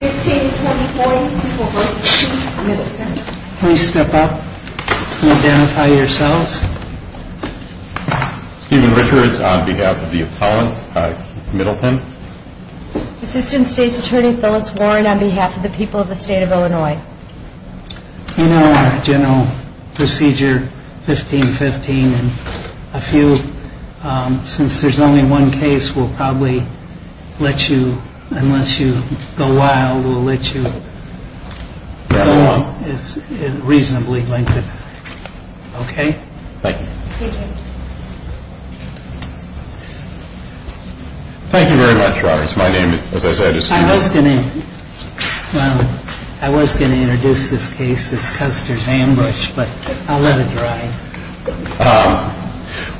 on behalf of the people of the state of Illinois. In our general procedure 1515 and a few, since there's only one case, we'll probably let you, unless you go wild, we'll let you go wild on behalf of the people of the state of Illinois. I was going to introduce this case as Custer's Ambush, but I'll let it dry.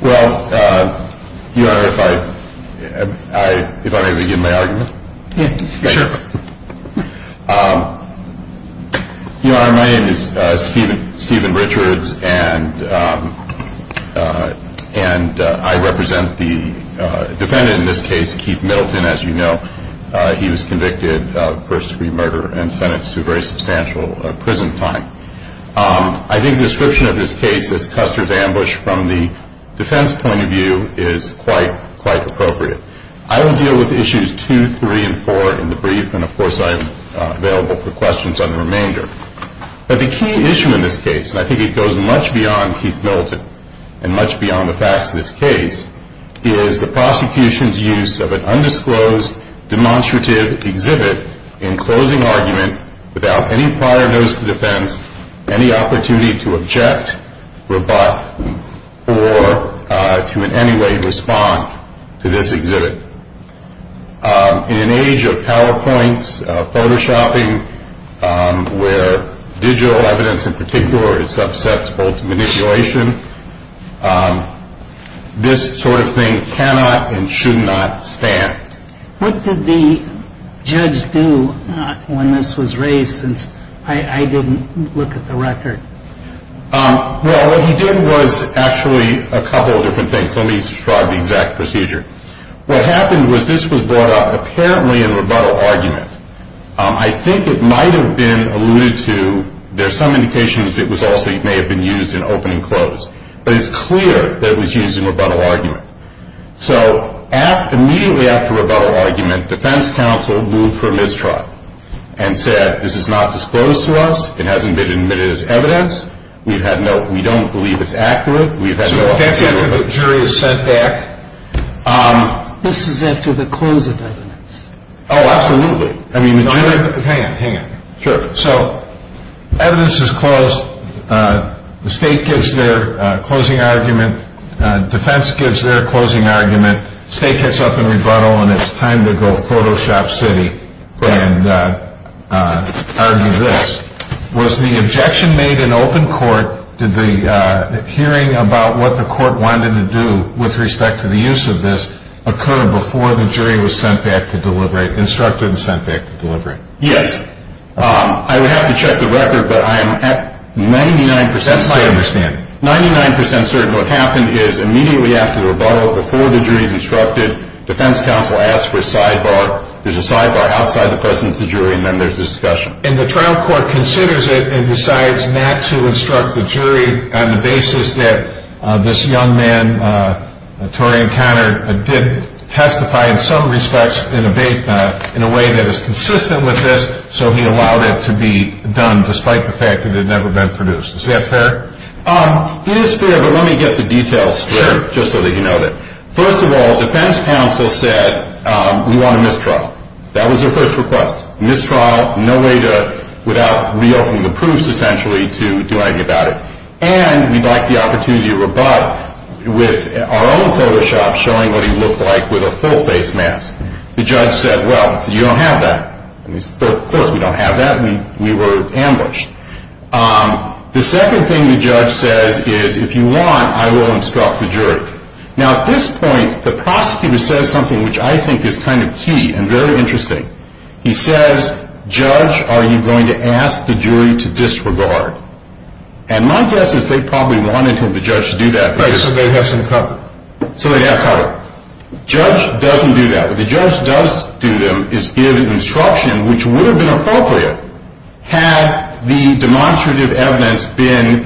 Well, Your Honor, if I may begin my argument. Your Honor, my name is Stephen Richards and I represent the defendant in this case, Keith Middleton, as you know. He was convicted of first degree murder and sentenced to a very substantial prison time. I think the description of this case as Custer's Ambush from the defense point of view is quite appropriate. I will deal with issues 2, 3, and 4 in the brief, and of course I am available for questions on the remainder. But the key issue in this case, and I think it goes much beyond Keith Middleton and much beyond the facts of this case, is the prosecution's use of an undisclosed demonstrative exhibit in closing argument without any prior notice to defense, any opportunity to object, rebut, or to in any way respond to this exhibit. In an age of PowerPoints, Photoshopping, where digital evidence in particular subsets both manipulation, this sort of thing cannot and should not stand. What did the judge do when this was raised since I didn't look at the record? Well, what he did was actually a couple of different things. Let me describe the exact procedure. What happened was this was brought up apparently in rebuttal argument. I think it might have been alluded to, there's some indications it was also, it may have been used in opening and close. But it's clear that it was used in rebuttal argument. So immediately after rebuttal argument, defense counsel moved for mistrial and said this is not disclosed to us. It hasn't been admitted as evidence. We don't believe it's accurate. So that's after the jury is sent back. This is after the close of evidence. Oh, absolutely. Hang on, hang on. Sure. So evidence is closed. The state gives their closing argument. Defense gives their closing argument. State gets up in rebuttal, and it's time to go Photoshop City and argue this. Was the objection made in open court? Did the hearing about what the court wanted to do with respect to the use of this occur before the jury was sent back to deliberate, instructed and sent back to deliberate? Yes. I would have to check the record, but I am at 99% certain. That's my understanding. 99% certain. What happened is immediately after the rebuttal, before the jury's instructed, defense counsel asked for a sidebar. There's a sidebar outside the presence of the jury, and then there's the discussion. And the trial court considers it and decides not to instruct the jury on the basis that this young man, Torian Conner, did testify in some respects in a way that is consistent with this, so he allowed it to be done despite the fact that it had never been produced. Is that fair? It is fair, but let me get the details straight just so that you know that. First of all, defense counsel said we want a mistrial. That was their first request. Mistrial, no way to, without reopening the proofs essentially, to do anything about it. And we'd like the opportunity to rebut with our own Photoshop showing what he looked like with a full face mask. The judge said, well, you don't have that. Of course we don't have that. We were ambushed. The second thing the judge says is if you want, I will instruct the jury. Now at this point, the prosecutor says something which I think is kind of key and very interesting. He says, judge, are you going to ask the jury to disregard? And my guess is they probably wanted for the judge to do that. Right, so they'd have some cover. So they'd have cover. Judge doesn't do that. What the judge does do, though, is give instruction which would have been appropriate had the demonstrative evidence been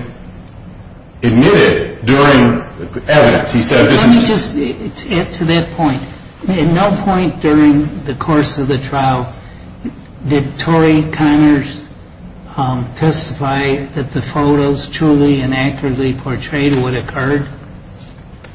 admitted during evidence. Let me just add to that point. At no point during the course of the trial did Torrey Connors testify that the photos truly and accurately portrayed what occurred?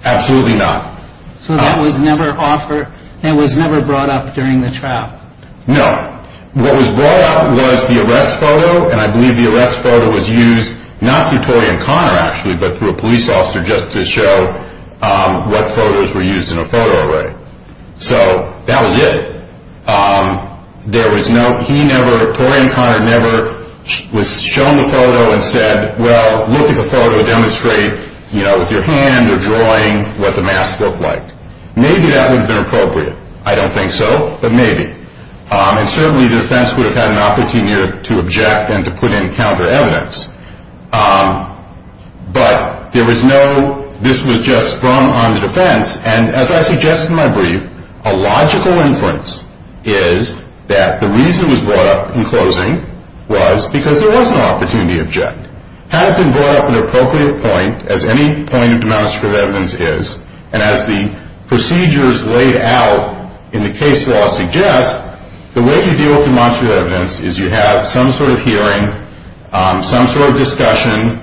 Absolutely not. So that was never offered, that was never brought up during the trial? No. What was brought up was the arrest photo. And I believe the arrest photo was used not through Torrey and Connor, actually, but through a police officer just to show what photos were used in a photo array. So that was it. There was no, he never, Torrey and Connor never was shown the photo and said, well, look at the photo. Demonstrate, you know, with your hand or drawing what the mask looked like. Maybe that would have been appropriate. I don't think so, but maybe. And certainly the defense would have had an opportunity to object and to put in counter evidence. But there was no, this was just from on the defense. And as I suggested in my brief, a logical inference is that the reason it was brought up in closing was because there was an opportunity to object. Had it been brought up at an appropriate point, as any point of demonstrative evidence is, and as the procedures laid out in the case law suggest, the way you deal with demonstrative evidence is you have some sort of hearing, some sort of discussion,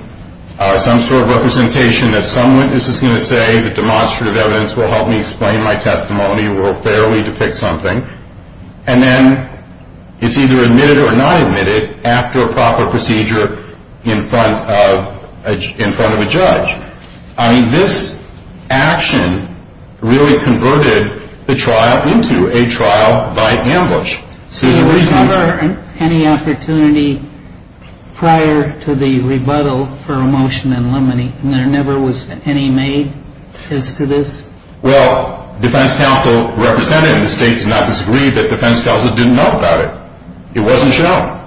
some sort of representation that some witness is going to say that demonstrative evidence will help me explain my testimony, will fairly depict something, and then it's either admitted or not admitted after a proper procedure in front of a judge. I mean, this action really converted the trial into a trial by ambush. So there was never any opportunity prior to the rebuttal for a motion in limine, and there never was any made as to this? Well, defense counsel represented, and the state did not disagree that defense counsel didn't know about it. It wasn't shown.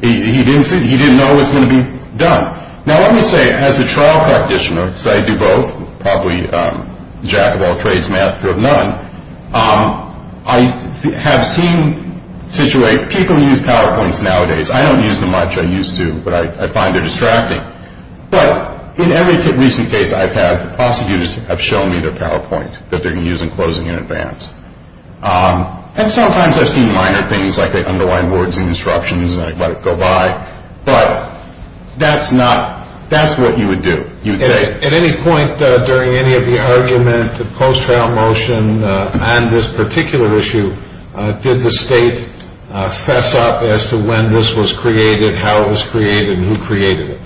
He didn't know what was going to be done. Now, let me say, as a trial practitioner, because I do both, probably jack-of-all-trades, master of none, I have seen situate people who use PowerPoints nowadays. I don't use them much. I used to, but I find they're distracting. But in every recent case I've had, the prosecutors have shown me their PowerPoint that they're going to use in closing in advance. And sometimes I've seen minor things like they underline words in instructions and I let it go by, but that's what you would do. At any point during any of the argument, the post-trial motion, on this particular issue, did the state fess up as to when this was created, how it was created, and who created it?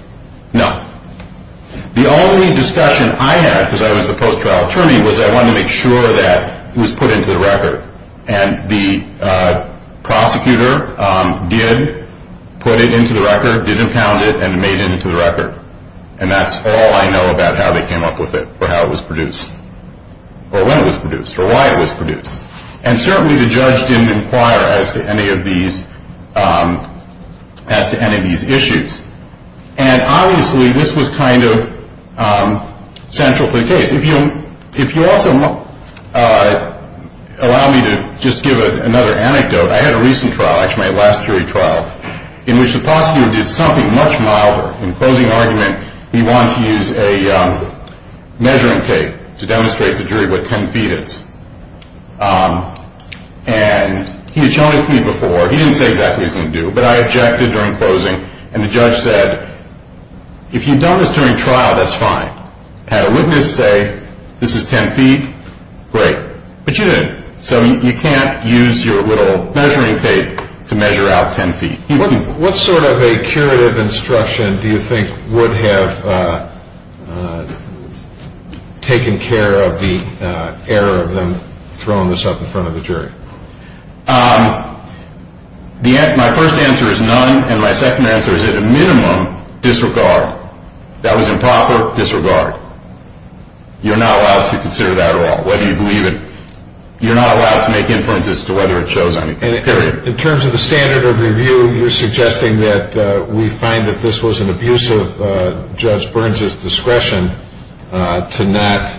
No. The only discussion I had, because I was the post-trial attorney, was I wanted to make sure that it was put into the record. And the prosecutor did put it into the record, did impound it, and made it into the record. And that's all I know about how they came up with it, or how it was produced, or when it was produced, or why it was produced. And certainly the judge didn't inquire as to any of these issues. And obviously this was kind of central to the case. If you also allow me to just give another anecdote, I had a recent trial, actually my last jury trial, in which the prosecutor did something much milder. In the closing argument, he wanted to use a measuring tape to demonstrate to the jury what 10 feet is. And he had shown it to me before. He didn't say exactly what he was going to do, but I objected during closing. And the judge said, if you've done this during trial, that's fine. Had a witness say, this is 10 feet, great. But you didn't. So you can't use your little measuring tape to measure out 10 feet. What sort of a curative instruction do you think would have taken care of the error of them throwing this up in front of the jury? My first answer is none, and my second answer is, at a minimum, disregard. That was improper. Disregard. You're not allowed to consider that at all, whether you believe it. You're not allowed to make inferences as to whether it shows anything, period. In terms of the standard of review, you're suggesting that we find that this was an abuse of Judge Burns' discretion to not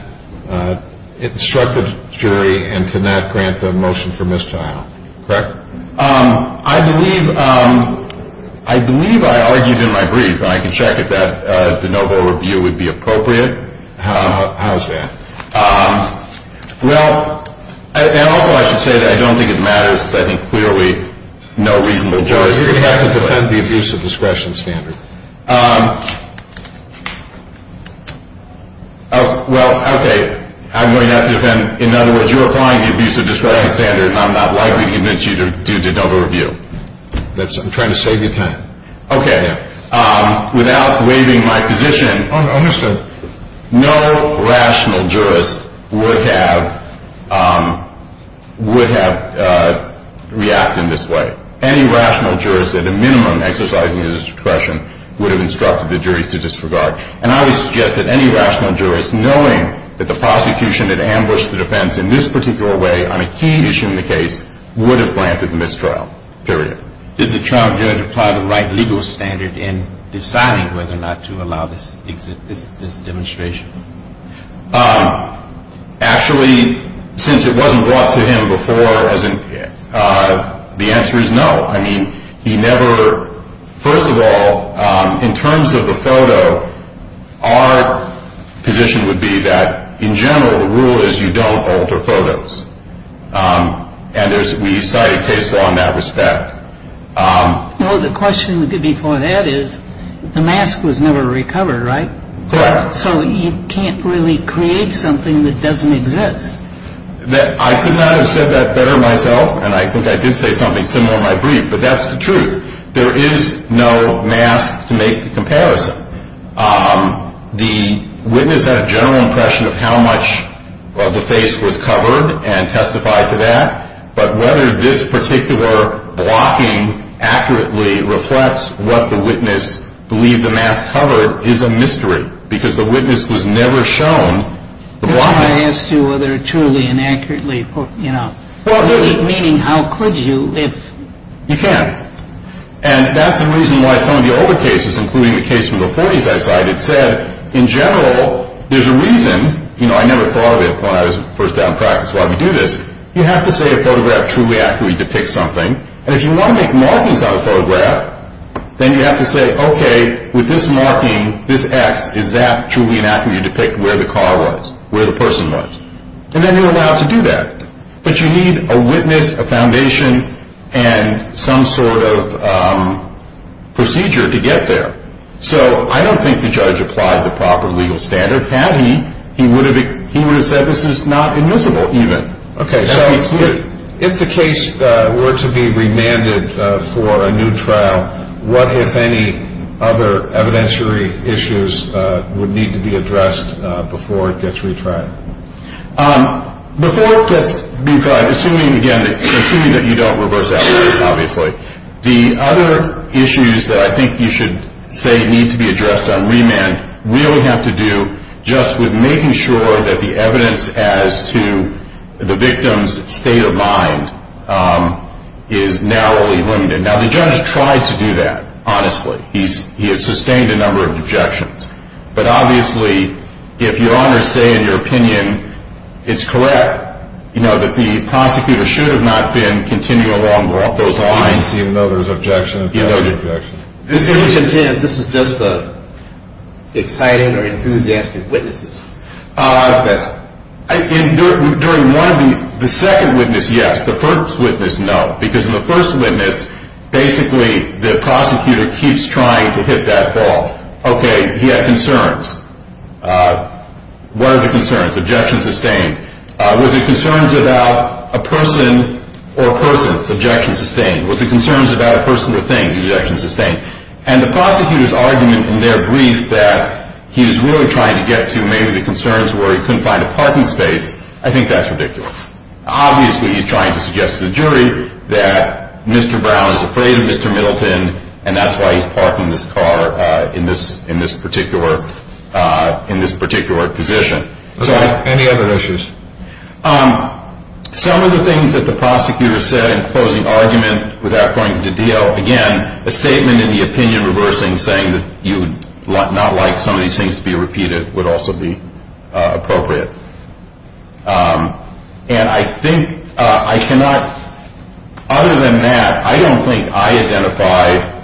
instruct the jury and to not grant the motion for mistrial, correct? I believe I argued in my brief, and I can check if that de novo review would be appropriate. How is that? Well, and also I should say that I don't think it matters, because I think clearly no reasonable jury is going to do it. But you're going to have to defend the abuse of discretion standard. Well, okay. I'm going to have to defend. In other words, you're applying the abuse of discretion standard, and I'm not likely to convince you to do de novo review. I'm trying to save you time. Okay. Without waiving my position, no rational jurist would have reacted in this way. Any rational jurist at a minimum exercising his discretion would have instructed the jury to disregard. And I would suggest that any rational jurist, knowing that the prosecution had ambushed the defense in this particular way on a key issue in the case, would have granted mistrial, period. Did the trial judge apply the right legal standard in deciding whether or not to allow this demonstration? Actually, since it wasn't brought to him before, the answer is no. I mean, he never – first of all, in terms of the photo, our position would be that in general the rule is you don't alter photos. And we cite a case law in that respect. Well, the question before that is the mask was never recovered, right? Correct. So you can't really create something that doesn't exist. I could not have said that better myself, and I think I did say something similar in my brief, but that's the truth. There is no mask to make the comparison. The witness had a general impression of how much of the face was covered and testified to that. But whether this particular blocking accurately reflects what the witness believed the mask covered is a mystery, because the witness was never shown the blocking. I asked you whether truly and accurately, you know, meaning how could you if – You can't. And that's the reason why some of the older cases, including the case from the 40s I cited, said in general there's a reason. You know, I never thought of it when I was first out in practice while we do this. You have to say a photograph truly accurately depicts something. And if you want to make markings on a photograph, then you have to say, okay, with this marking, this X, is that truly and accurately depict where the car was, where the person was? And then you're allowed to do that. But you need a witness, a foundation, and some sort of procedure to get there. So I don't think the judge applied the proper legal standard. Had he, he would have said this is not admissible even. Okay, so if the case were to be remanded for a new trial, what, if any, other evidentiary issues would need to be addressed before it gets retried? Before it gets retried, assuming, again, assuming that you don't reverse that, obviously, the other issues that I think you should say need to be addressed on remand really have to do just with making sure that the evidence as to the victim's state of mind is narrowly limited. Now, the judge tried to do that, honestly. He has sustained a number of objections. But obviously, if your honors say in your opinion it's correct, you know, that the prosecutor should have not been continuing along those lines. He didn't seem to know there was an objection. This was just the exciting or enthusiastic witnesses. During one of the, the second witness, yes. The first witness, no. Because in the first witness, basically, the prosecutor keeps trying to hit that ball. Okay, he had concerns. What are the concerns? Objection sustained. Was it concerns about a person or persons? Objection sustained. Was it concerns about a person or thing? Objection sustained. And the prosecutor's argument in their brief that he was really trying to get to maybe the concerns where he couldn't find a parking space, I think that's ridiculous. Obviously, he's trying to suggest to the jury that Mr. Brown is afraid of Mr. Middleton, and that's why he's parking this car in this particular position. Any other issues? Some of the things that the prosecutor said in closing argument without going to the D.O., again, a statement in the opinion reversing saying that you would not like some of these things to be repeated would also be appropriate. And I think I cannot, other than that, I don't think I identified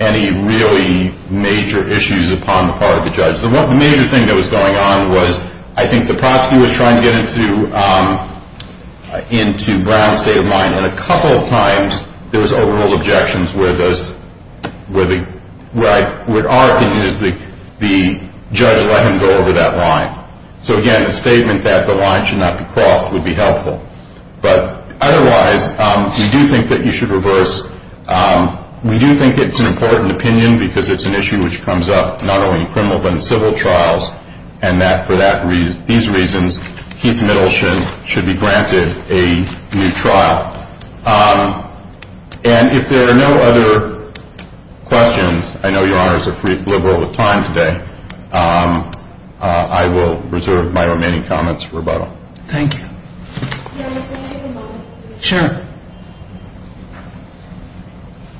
any really major issues upon the part of the judge. The major thing that was going on was I think the prosecutor was trying to get into Brown's state of mind, and a couple of times there was overall objections where our opinion is the judge let him go over that line. So, again, a statement that the line should not be crossed would be helpful. But otherwise, we do think that you should reverse. We do think it's an important opinion because it's an issue which comes up not only in criminal but in civil trials, and that for these reasons, Keith Middleton should be granted a new trial. And if there are no other questions, I know Your Honors are free and liberal with time today, I will reserve my remaining comments for rebuttal. Thank you. Your Honors, may I take a moment? Sure.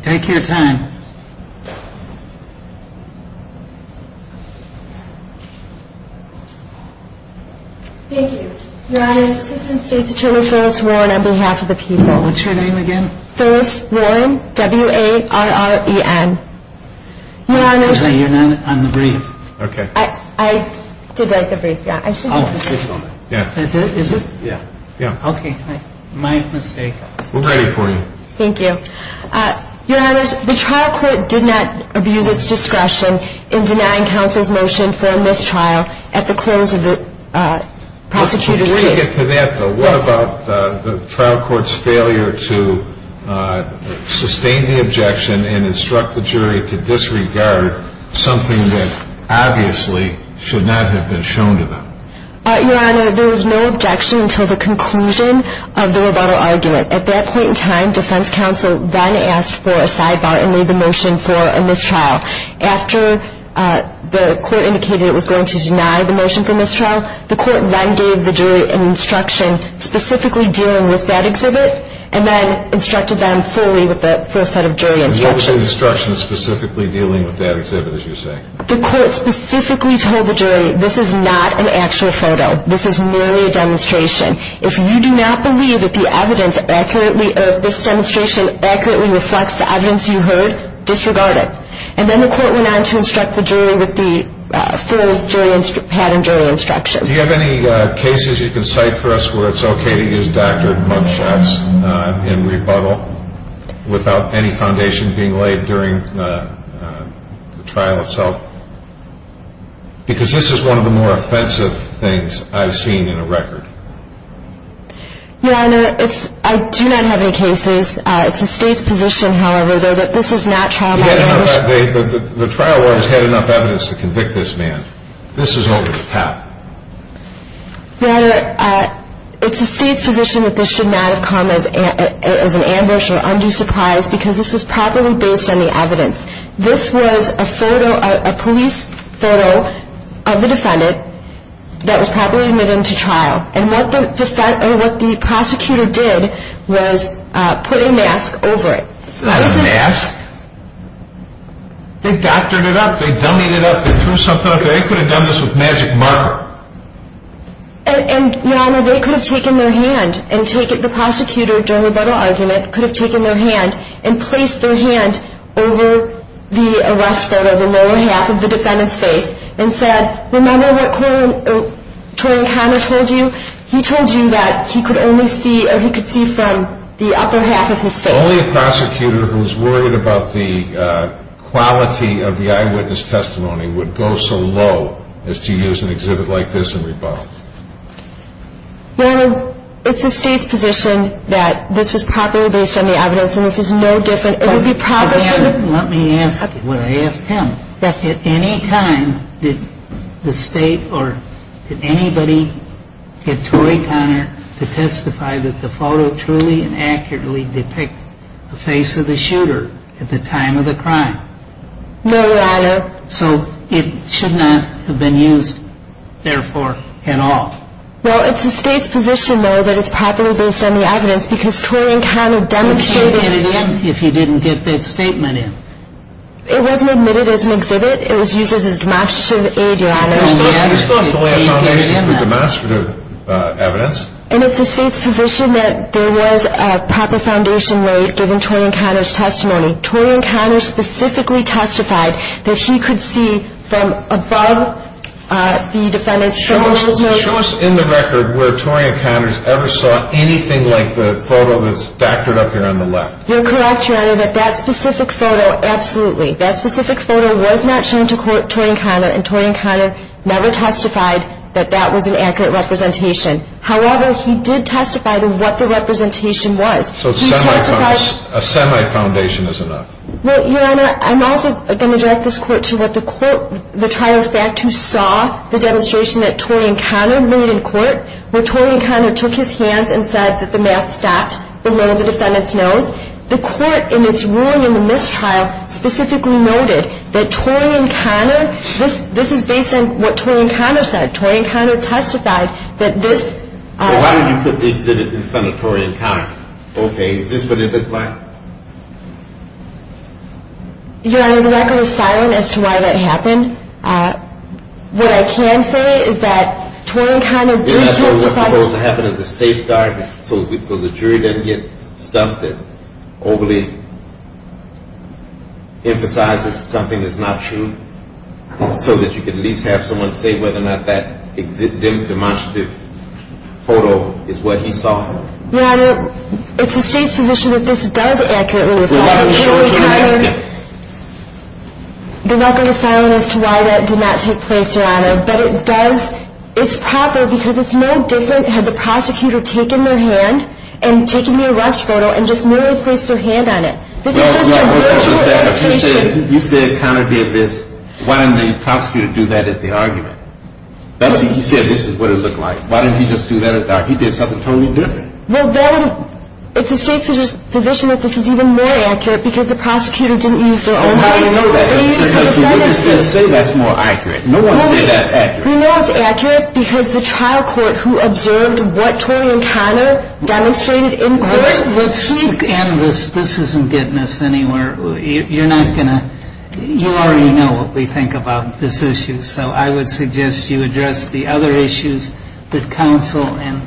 Take your time. Thank you. Your Honors, Assistant State's Attorney Phyllis Warren on behalf of the people. What's your name again? Phyllis Warren, W-A-R-R-E-N. Your Honors. Okay, you're not on the brief. Okay. I did write the brief. Yeah, I should have. Oh, just a moment. Yeah. Is it? Yeah. Yeah. Okay. My mistake. We're ready for you. Thank you. Your Honors, the trial court did not abuse its discretion in denying counsel's motion for a mistrial at the close of the prosecutor's case. Before we get to that though, what about the trial court's failure to sustain the objection and instruct the jury to disregard something that obviously should not have been shown to them? Your Honor, there was no objection until the conclusion of the rebuttal argument. At that point in time, defense counsel then asked for a sidebar and made the motion for a mistrial. After the court indicated it was going to deny the motion for mistrial, the court then gave the jury an instruction specifically dealing with that exhibit and then instructed them fully with the full set of jury instructions. And what was the instruction specifically dealing with that exhibit, as you say? The court specifically told the jury this is not an actual photo. This is merely a demonstration. If you do not believe that this demonstration accurately reflects the evidence you heard, disregard it. And then the court went on to instruct the jury with the full pattern jury instructions. Do you have any cases you can cite for us where it's okay to use doctored mug shots in rebuttal without any foundation being laid during the trial itself? Because this is one of the more offensive things I've seen in a record. Your Honor, I do not have any cases. It's the State's position, however, though, that this is not trial by motion. The trial lawyers had enough evidence to convict this man. This is over the top. Your Honor, it's the State's position that this should not have come as an ambush or undue surprise because this was properly based on the evidence. This was a police photo of the defendant that was properly admitted into trial. And what the prosecutor did was put a mask over it. This is not a mask. They doctored it up. They dummied it up. They threw something up there. They could have done this with magic marker. And, Your Honor, they could have taken their hand and taken the prosecutor, during the rebuttal argument, could have taken their hand and placed their hand over the arrest photo, the lower half of the defendant's face, and said, remember what Torrey Connor told you? He told you that he could only see or he could see from the upper half of his face. Only a prosecutor who's worried about the quality of the eyewitness testimony would go so low as to use an exhibit like this in rebuttal. Your Honor, it's the State's position that this was properly based on the evidence, and this is no different. It would be proper for the- Let me ask what I asked him. At any time, did the State or did anybody get Torrey Connor to testify that the photo truly and accurately depicts the face of the shooter at the time of the crime? No, Your Honor. So it should not have been used, therefore, at all? Well, it's the State's position, though, that it's properly based on the evidence because Torrey Connor demonstrated- But can you get it in if you didn't get that statement in? It wasn't admitted as an exhibit. It was used as a demonstrative aid, Your Honor. We still have to lay a foundation for demonstrative evidence. And it's the State's position that there was a proper foundation laid given Torrey Connor's testimony. Torrey Connor specifically testified that he could see from above the defendant's- Show us in the record where Torrey Connors ever saw anything like the photo that's doctored up here on the left. You're correct, Your Honor, that that specific photo, absolutely, that specific photo was not shown to Torrey Connor, and Torrey Connor never testified that that was an accurate representation. However, he did testify to what the representation was. So a semi-foundation is enough. Well, Your Honor, I'm also going to direct this Court to what the trial fact who saw the demonstration that Torrey Connor made in court, where Torrey Connor took his hands and said that the mask stopped below the defendant's nose. The Court, in its ruling in this trial, specifically noted that Torrey Connor- This is based on what Torrey Connor said. Torrey Connor testified that this- Well, why don't you put the exhibit in front of Torrey Connor? Okay, is this what it looked like? Your Honor, the record is silent as to why that happened. What I can say is that Torrey Connor did testify- You're not saying what's supposed to happen is a safe guard so the jury doesn't get stumped and overly emphasize that something is not true so that you can at least have someone say whether or not that demonstrative photo is what he saw. Your Honor, it's the State's position that this does accurately reflect- Well, why don't you show it to the next guy? The record is silent as to why that did not take place, Your Honor, but it does- it's proper because it's no different had the prosecutor taken their hand and taken the arrest photo and just merely placed their hand on it. This is just a virtual demonstration. Your Honor, you said Connor did this. Why didn't the prosecutor do that at the argument? He said this is what it looked like. Why didn't he just do that at the argument? He did something totally different. Well, then it's the State's position that this is even more accurate because the prosecutor didn't use their own hand. How do you know that? Because the witness didn't say that's more accurate. No one said that's accurate. We know it's accurate because the trial court who observed what Torrey and Connor demonstrated in court- This isn't getting us anywhere. You're not going to- you already know what we think about this issue, so I would suggest you address the other issues that counsel and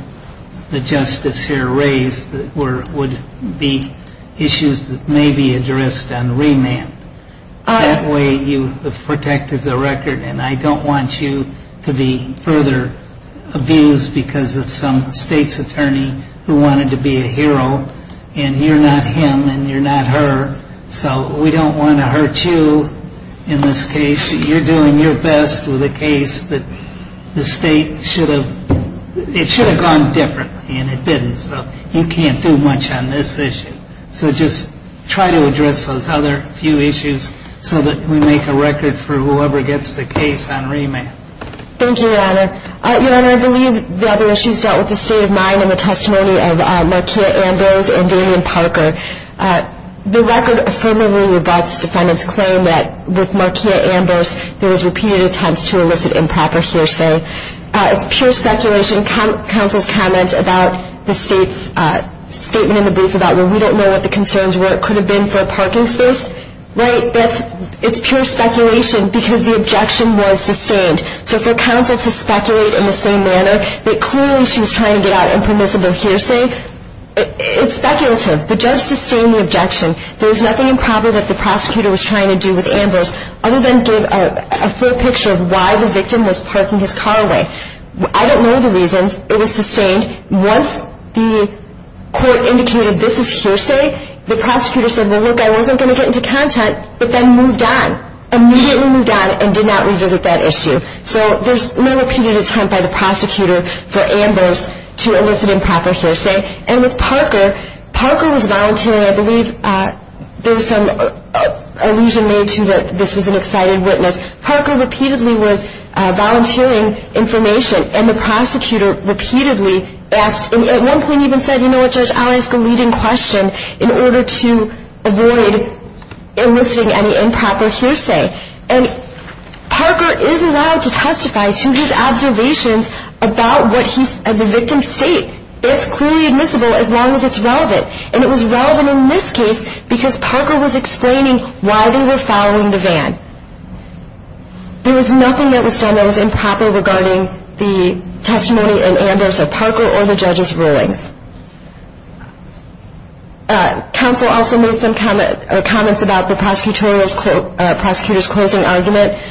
the justice here raised that would be issues that may be addressed on remand. That way you have protected the record, and I don't want you to be further abused because of some State's attorney who wanted to be a hero, and you're not him and you're not her, so we don't want to hurt you in this case. You're doing your best with a case that the State should have- it should have gone differently, and it didn't, so you can't do much on this issue. So just try to address those other few issues so that we make a record for whoever gets the case on remand. Thank you, Your Honor. Your Honor, I believe the other issues dealt with the state of mind and the testimony of Markeia Ambrose and Damian Parker. The record affirmatively rebuts defendant's claim that with Markeia Ambrose, there was repeated attempts to elicit improper hearsay. It's pure speculation. Counsel's comment about the State's statement in the brief about, well, we don't know what the concerns were. It could have been for a parking space, right? It's pure speculation because the objection was sustained. So for counsel to speculate in the same manner that clearly she was trying to get out impermissible hearsay, it's speculative. The judge sustained the objection. There was nothing improper that the prosecutor was trying to do with Ambrose other than give a full picture of why the victim was parking his car away. I don't know the reasons. It was sustained. Once the court indicated this is hearsay, the prosecutor said, well, look, I wasn't going to get into content, but then moved on, immediately moved on and did not revisit that issue. So there's no repeated attempt by the prosecutor for Ambrose to elicit improper hearsay. And with Parker, Parker was volunteering. I believe there's some allusion made to that this was an excited witness. Parker repeatedly was volunteering information, and the prosecutor repeatedly asked, at one point even said, you know what, Judge, I'll ask a leading question in order to avoid eliciting any improper hearsay. And Parker is allowed to testify to his observations about the victim's state. It's clearly admissible as long as it's relevant, and it was relevant in this case because Parker was explaining why they were following the van. I don't know if there's any other comments that I can make regarding the testimony in Ambrose or Parker or the judge's rulings. Counsel also made some comments about the prosecutor's closing argument.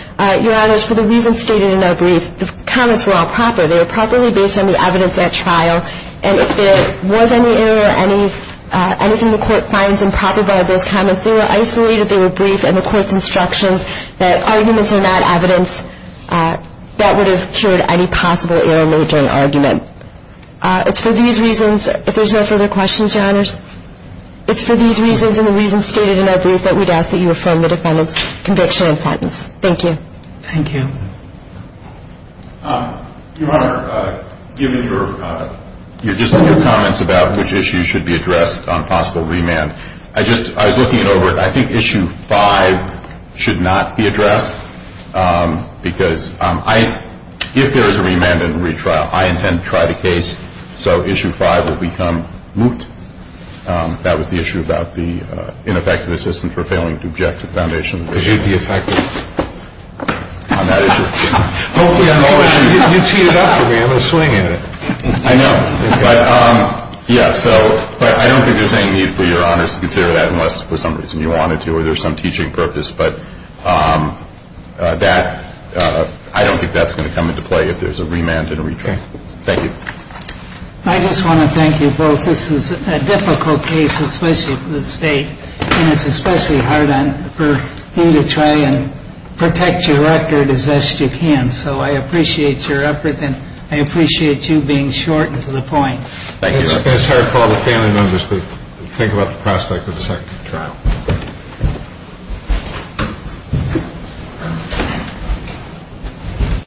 Your honors, for the reasons stated in their brief, the comments were all proper. They were properly based on the evidence at trial, and if there was any error, anything the court finds improper about those comments, they were isolated. They were brief, and the court's instructions that arguments are not evidence, that would have cured any possible error made during argument. It's for these reasons, if there's no further questions, your honors, it's for these reasons and the reasons stated in Ambrose that we'd ask that you affirm the defendant's conviction and sentence. Thank you. Thank you. Your honor, given your comments about which issues should be addressed on possible remand, I was looking it over. I think issue five should not be addressed because if there is a remand and retrial, I intend to try the case, so issue five would become moot. That was the issue about the ineffective assistance for failing to object to the foundation. It should be effective. On that issue. Hopefully I'm always, you teed it up for me. I'm a swing at it. I know. But I don't think there's any need for your honors to consider that unless for some reason you wanted to or there's some teaching purpose. But I don't think that's going to come into play if there's a remand and a retrial. Thank you. I just want to thank you both. This is a difficult case, especially for the state, and it's especially hard for him to try and protect your record as best you can. So I appreciate your effort, and I appreciate you being short and to the point. Thank you. It's hard for all the family members to think about the prospect of a second trial.